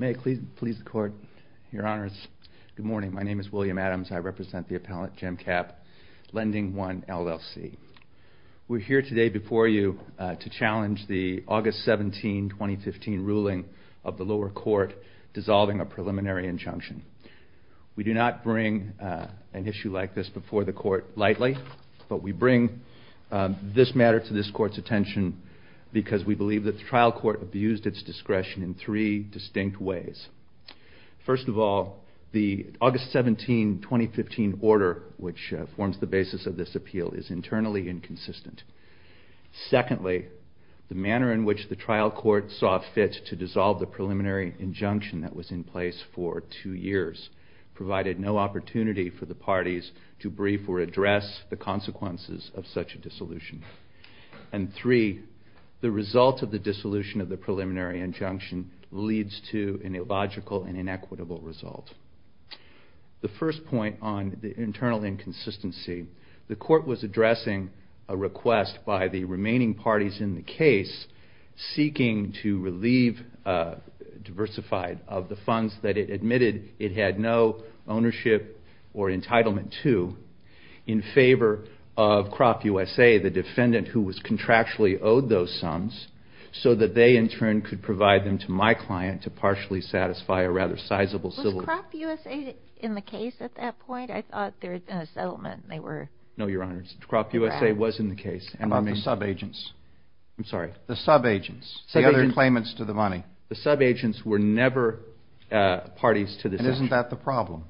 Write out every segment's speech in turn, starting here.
May it please the court, your honors. Good morning. My name is William Adams. I represent the appellate, Jim Capp, Lending I LLC. We're here today before you to challenge the August 17, 2015 ruling of the lower court dissolving a preliminary injunction. We do not bring an issue like this before the court lightly, but we bring this matter to this court's attention because we believe that the trial court abused its discretion in three distinct ways. First of all, the August 17, 2015 order, which forms the basis of this appeal, is internally inconsistent. Secondly, the manner in which the trial court saw fit to dissolve the preliminary injunction that was in place for two years provided no opportunity for the parties to brief or address the consequences of such a dissolution. And three, the result of the dissolution of the preliminary injunction leads to an illogical and inequitable result. The first point on the internal inconsistency, the court was addressing a request by the remaining parties in the case seeking to relieve Diversified of the funds that it admitted it had no ownership or entitlement to in favor of Crop USA, the defendant who was contractually owed those sums, so that they in turn could provide them to my client to partially satisfy a rather sizable settlement. Was Crop USA in the case at that point? I thought they were in a settlement. No, Your Honor, Crop USA was in the case. What about the subagents? I'm sorry? The subagents, the other claimants to the money. The subagents were never parties to the settlement. Why isn't that the problem?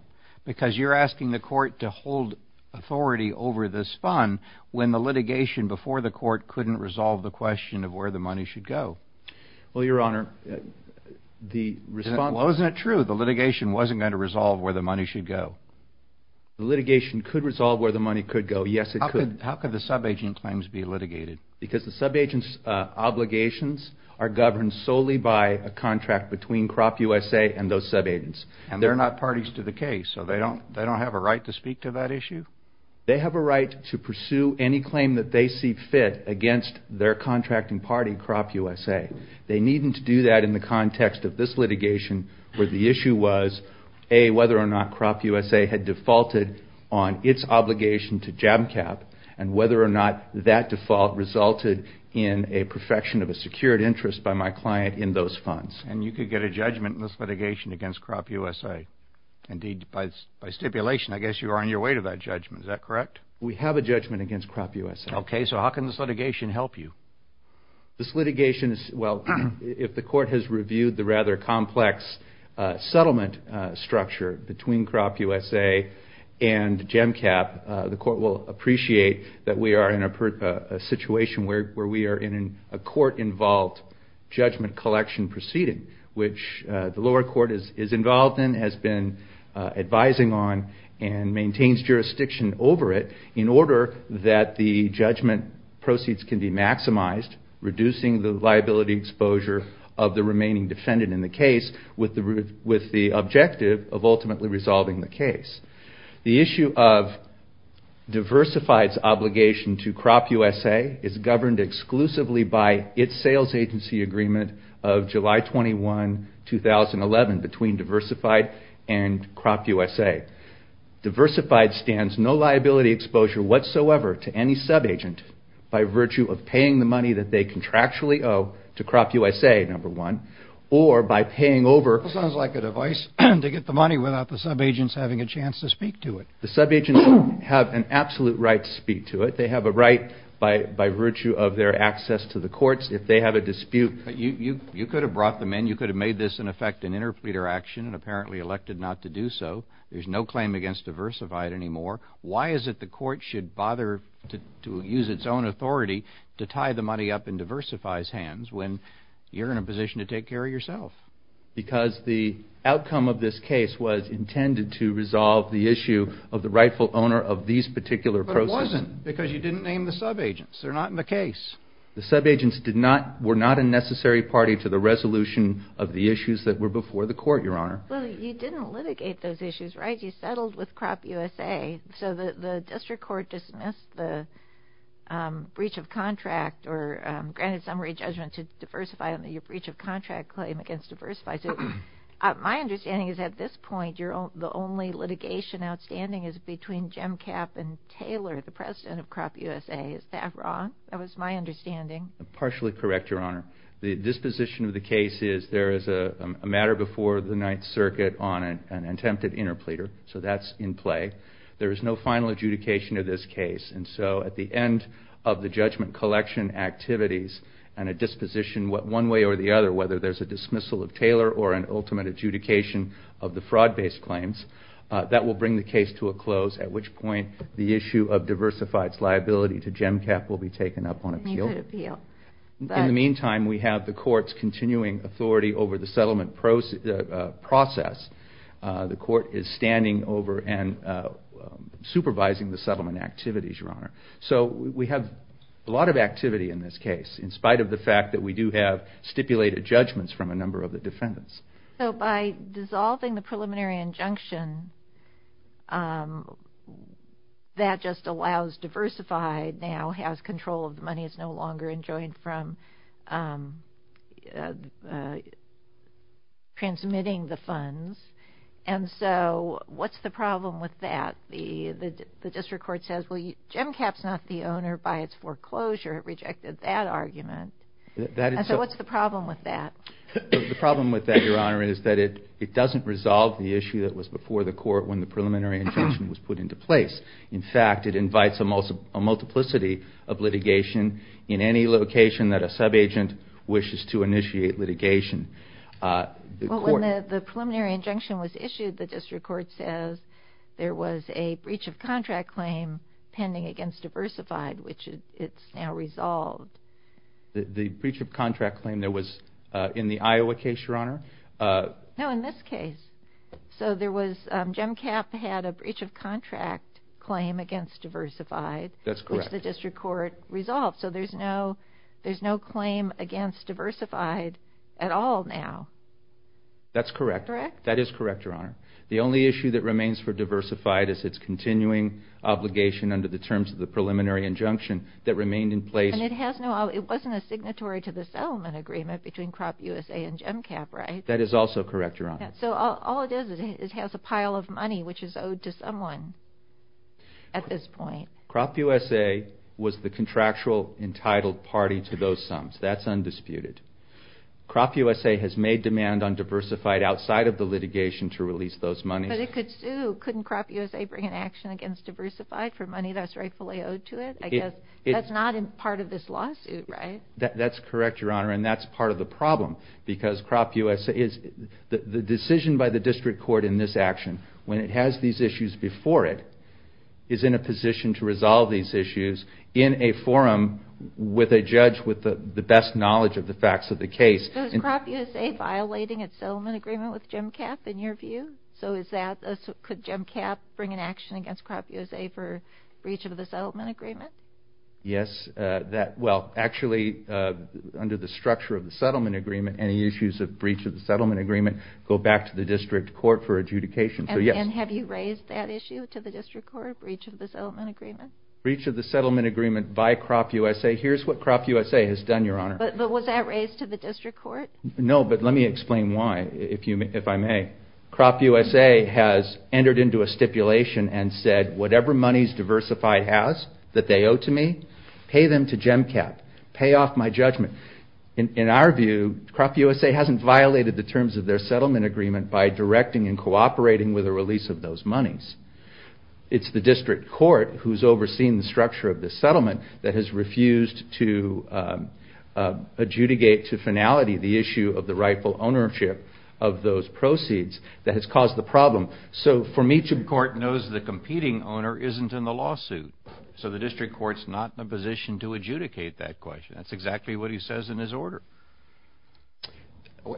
Because you're asking the court to hold authority over this fund when the litigation before the court couldn't resolve the question of where the money should go. Well, Your Honor, the response... Well, isn't that true? The litigation wasn't going to resolve where the money should go. The litigation could resolve where the money could go. Yes, it could. How could the subagent claims be litigated? Because the subagent's obligations are governed solely by a contract between Crop USA and those subagents. And they're not parties to the case, so they don't have a right to speak to that issue? They have a right to pursue any claim that they see fit against their contracting party, Crop USA. They needn't do that in the context of this litigation where the issue was, A, whether or not Crop USA had defaulted on its obligation to JABCAP and whether or not that default resulted in a perfection of a secured interest by my client in those funds. And you could get a judgment in this litigation against Crop USA. Indeed, by stipulation, I guess you are on your way to that judgment. Is that correct? We have a judgment against Crop USA. Okay, so how can this litigation help you? This litigation is... Well, if the court has reviewed the rather complex settlement structure between Crop USA and JABCAP, the court will appreciate that we are in a situation where we are in a court-involved judgment collection proceeding, which the lower court is involved in, has been advising on, and maintains jurisdiction over it in order that the judgment proceeds can be maximized, reducing the liability exposure of the remaining defendant in the case with the objective of ultimately resolving the case. The issue of Diversified's obligation to Crop USA is governed exclusively by its sales agency agreement of July 21, 2011, between Diversified and Crop USA. Diversified stands no liability exposure whatsoever to any subagent by virtue of paying the money that they contractually owe to Crop USA, number one, or by paying over... The subagents have an absolute right to speak to it. They have a right by virtue of their access to the courts. If they have a dispute... You could have brought them in. You could have made this, in effect, an interpleader action and apparently elected not to do so. There's no claim against Diversified anymore. Why is it the court should bother to use its own authority to tie the money up in Diversified's hands when you're in a position to take care of yourself? Because the outcome of this case was intended to resolve the issue of the rightful owner of these particular proceeds. But it wasn't because you didn't name the subagents. They're not in the case. The subagents were not a necessary party to the resolution of the issues that were before the court, Your Honor. Well, you didn't litigate those issues, right? You settled with Crop USA. So the district court dismissed the breach of contract or granted summary judgment to Diversified on the breach of contract claim against Diversified. My understanding is at this point, the only litigation outstanding is between Gemcap and Taylor, the president of Crop USA. Is that wrong? That was my understanding. Partially correct, Your Honor. The disposition of the case is there is a matter before the Ninth Circuit on an attempted interpleader. So that's in play. There is no final adjudication of this case. And so at the end of the judgment collection activities and a disposition one way or the other, whether there's a dismissal of Taylor or an ultimate adjudication of the fraud-based claims, that will bring the case to a close, at which point the issue of Diversified's liability to Gemcap will be taken up on appeal. In the meantime, we have the court's continuing authority over the settlement process. The court is standing over and supervising the settlement activities, Your Honor. So we have a lot of activity in this case, in spite of the fact that we do have stipulated judgments from a number of the defendants. So by dissolving the preliminary injunction, that just allows Diversified now has control of the money, is no longer enjoined from transmitting the funds. And so what's the problem with that? The district court says, well, Gemcap's not the owner by its foreclosure. It rejected that argument. And so what's the problem with that? The problem with that, Your Honor, is that it doesn't resolve the issue that was before the court when the preliminary injunction was put into place. In fact, it invites a multiplicity of litigation in any location that a subagent wishes to initiate litigation. Well, when the preliminary injunction was issued, the district court says there was a breach of contract claim pending against Diversified, which it's now resolved. The breach of contract claim that was in the Iowa case, Your Honor? No, in this case. So Gemcap had a breach of contract claim against Diversified, which the district court resolved. So there's no claim against Diversified at all now. That's correct. Correct? That is correct, Your Honor. The only issue that remains for Diversified is its continuing obligation under the terms of the preliminary injunction that remained in place. And it wasn't a signatory to the settlement agreement between CropUSA and Gemcap, right? That is also correct, Your Honor. So all it is is it has a pile of money which is owed to someone at this point. CropUSA was the contractual entitled party to those sums. That's undisputed. CropUSA has made demand on Diversified outside of the litigation to release those monies. But it could sue. Couldn't CropUSA bring an action against Diversified for money that's rightfully owed to it? I guess that's not part of this lawsuit, right? That's correct, Your Honor. And that's part of the problem because the decision by the district court in this action, when it has these issues before it, is in a position to resolve these issues in a forum with a judge with the best knowledge of the facts of the case. So is CropUSA violating its settlement agreement with Gemcap in your view? So could Gemcap bring an action against CropUSA for breach of the settlement agreement? Yes. Well, actually, under the structure of the settlement agreement, any issues of breach of the settlement agreement go back to the district court for adjudication. And have you raised that issue to the district court, breach of the settlement agreement? Breach of the settlement agreement by CropUSA. Here's what CropUSA has done, Your Honor. But was that raised to the district court? No, but let me explain why, if I may. CropUSA has entered into a stipulation and said, whatever monies Diversified has that they owe to me, pay them to Gemcap. Pay off my judgment. In our view, CropUSA hasn't violated the terms of their settlement agreement by directing and cooperating with the release of those monies. It's the district court who's overseeing the structure of the settlement that has refused to adjudicate to finality the issue of the rightful ownership of those proceeds that has caused the problem. So, for me, the court knows the competing owner isn't in the lawsuit. So the district court's not in a position to adjudicate that question. That's exactly what he says in his order.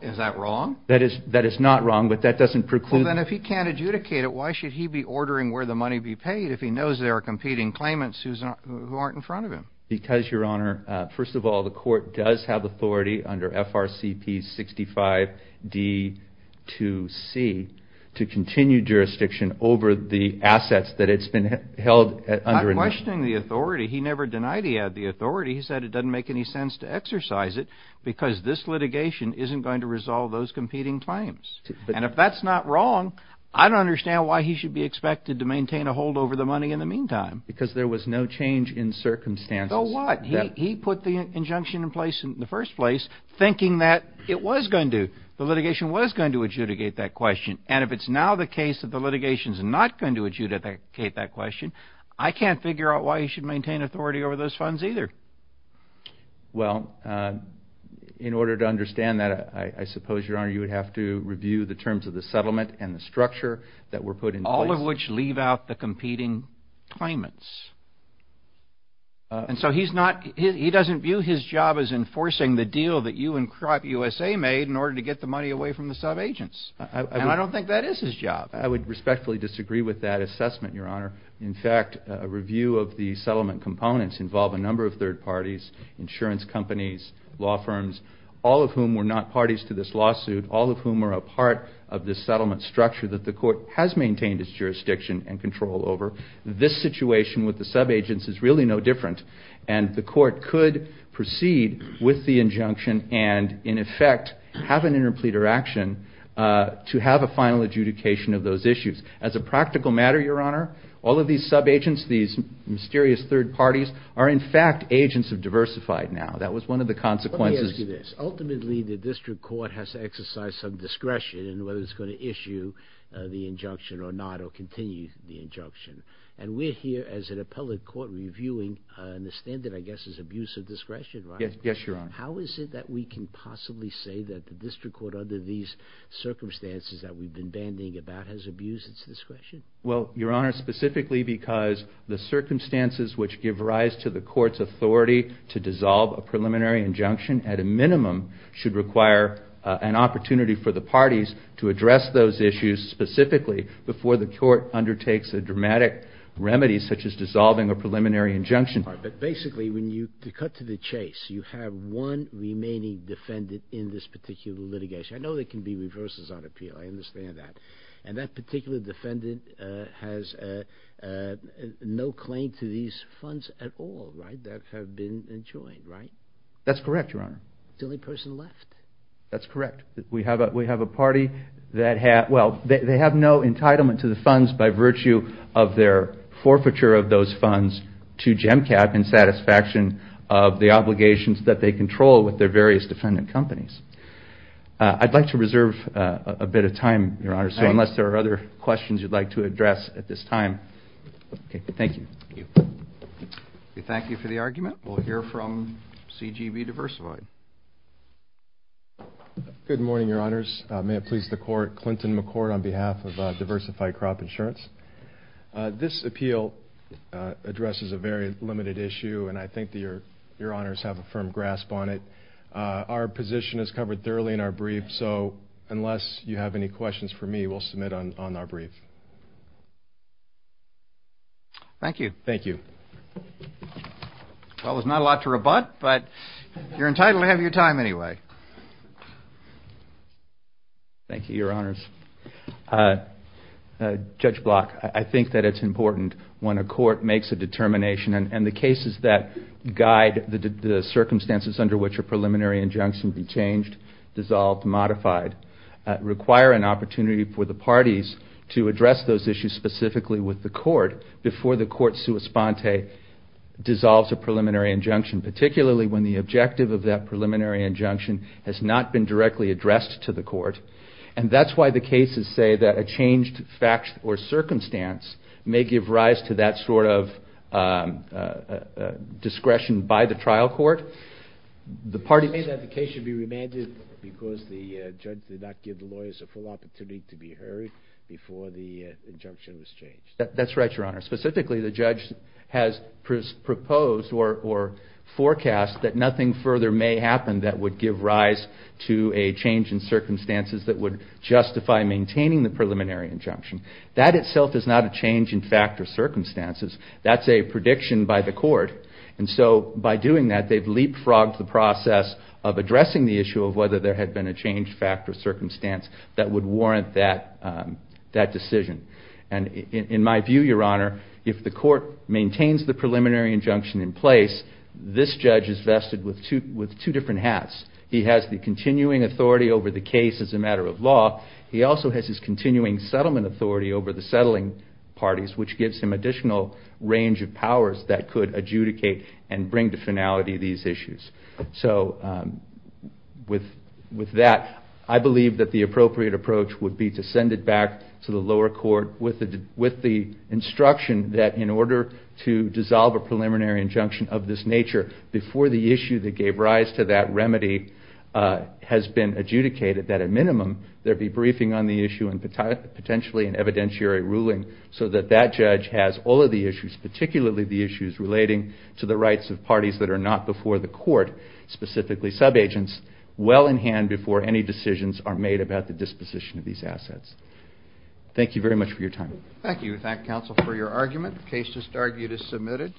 Is that wrong? That is not wrong, but that doesn't preclude... Well, then, if he can't adjudicate it, why should he be ordering where the money be paid if he knows there are competing claimants who aren't in front of him? Because, Your Honor, first of all, the court does have authority under FRCP 65-D2C to continue jurisdiction over the assets that it's been held under. I'm questioning the authority. He never denied he had the authority. He said it doesn't make any sense to exercise it because this litigation isn't going to resolve those competing claims. And if that's not wrong, I don't understand why he should be expected to maintain a hold over the money in the meantime. Because there was no change in circumstances. So what? He put the injunction in place in the first place thinking that it was going to. The litigation was going to adjudicate that question, and if it's now the case that the litigation is not going to adjudicate that question, I can't figure out why he should maintain authority over those funds either. Well, in order to understand that, I suppose, Your Honor, you would have to review the terms of the settlement and the structure that were put in place. All of which leave out the competing claimants. And so he doesn't view his job as enforcing the deal that you and CropUSA made in order to get the money away from the subagents. And I don't think that is his job. I would respectfully disagree with that assessment, Your Honor. In fact, a review of the settlement components involve a number of third parties, insurance companies, law firms, all of whom were not parties to this lawsuit, all of whom were a part of this settlement structure that the Court has maintained its jurisdiction and control over. This situation with the subagents is really no different. And the Court could proceed with the injunction and, in effect, have an interpleader action to have a final adjudication of those issues. As a practical matter, Your Honor, all of these subagents, these mysterious third parties, are, in fact, agents of diversified now. That was one of the consequences. Let me ask you this. Ultimately, the district court has to exercise some discretion in whether it's going to issue the injunction or not or continue the injunction. And we're here as an appellate court reviewing the standard, I guess, is abuse of discretion, right? Yes, Your Honor. How is it that we can possibly say that the district court, under these circumstances that we've been bandying about, has abused its discretion? Well, Your Honor, specifically because the circumstances which give rise to the court's authority to dissolve a preliminary injunction, at a minimum, should require an opportunity for the parties to address those issues specifically before the court undertakes a dramatic remedy such as dissolving a preliminary injunction. But basically, to cut to the chase, you have one remaining defendant in this particular litigation. I know there can be reverses on appeal. I understand that. And that particular defendant has no claim to these funds at all, right, that have been enjoined, right? That's correct, Your Honor. The only person left. That's correct. We have a party that has no entitlement to the funds by virtue of their forfeiture of those funds to GEMCAP in satisfaction of the obligations that they control with their various defendant companies. I'd like to reserve a bit of time, Your Honor, so unless there are other questions you'd like to address at this time. Okay. Thank you. Thank you. We thank you for the argument. We'll hear from CGB Diversified. Good morning, Your Honors. May it please the Court. Clinton McCord on behalf of Diversified Crop Insurance. This appeal addresses a very limited issue, and I think that Your Honors have a firm grasp on it. Our position is covered thoroughly in our brief, so unless you have any questions for me, we'll submit on our brief. Thank you. Thank you. Well, there's not a lot to rebut, but you're entitled to have your time anyway. Thank you, Your Honors. Judge Block, I think that it's important when a court makes a determination, and the cases that guide the circumstances under which a preliminary injunction can be changed, dissolved, modified, require an opportunity for the parties to address those issues specifically with the court before the court sua sponte dissolves a preliminary injunction, particularly when the objective of that preliminary injunction has not been directly addressed to the court. And that's why the cases say that a changed fact or circumstance may give rise to that sort of discretion by the trial court. May the case be remanded because the judge did not give the lawyers a full opportunity to be heard before the injunction was changed? That's right, Your Honor. Specifically, the judge has proposed or forecast that nothing further may happen that would give rise to a change in circumstances that would justify maintaining the preliminary injunction. That itself is not a change in fact or circumstances. That's a prediction by the court. And so by doing that, they've leapfrogged the process of addressing the issue of whether there had been a changed fact or circumstance that would warrant that decision. And in my view, Your Honor, if the court maintains the preliminary injunction in place, this judge is vested with two different hats. He has the continuing authority over the case as a matter of law. He also has his continuing settlement authority over the settling parties, which gives him additional range of powers that could adjudicate and bring to finality these issues. So with that, I believe that the appropriate approach would be to send it back to the lower court with the instruction that in order to dissolve a preliminary injunction of this nature, before the issue that gave rise to that remedy has been adjudicated, that at minimum there be briefing on the issue and potentially an evidentiary ruling so that that judge has all of the issues, particularly the issues relating to the rights of parties that are not before the court, specifically subagents, well in hand before any decisions are made about the disposition of these assets. Thank you very much for your time. Thank you. Thank counsel for your argument. The case just argued is submitted.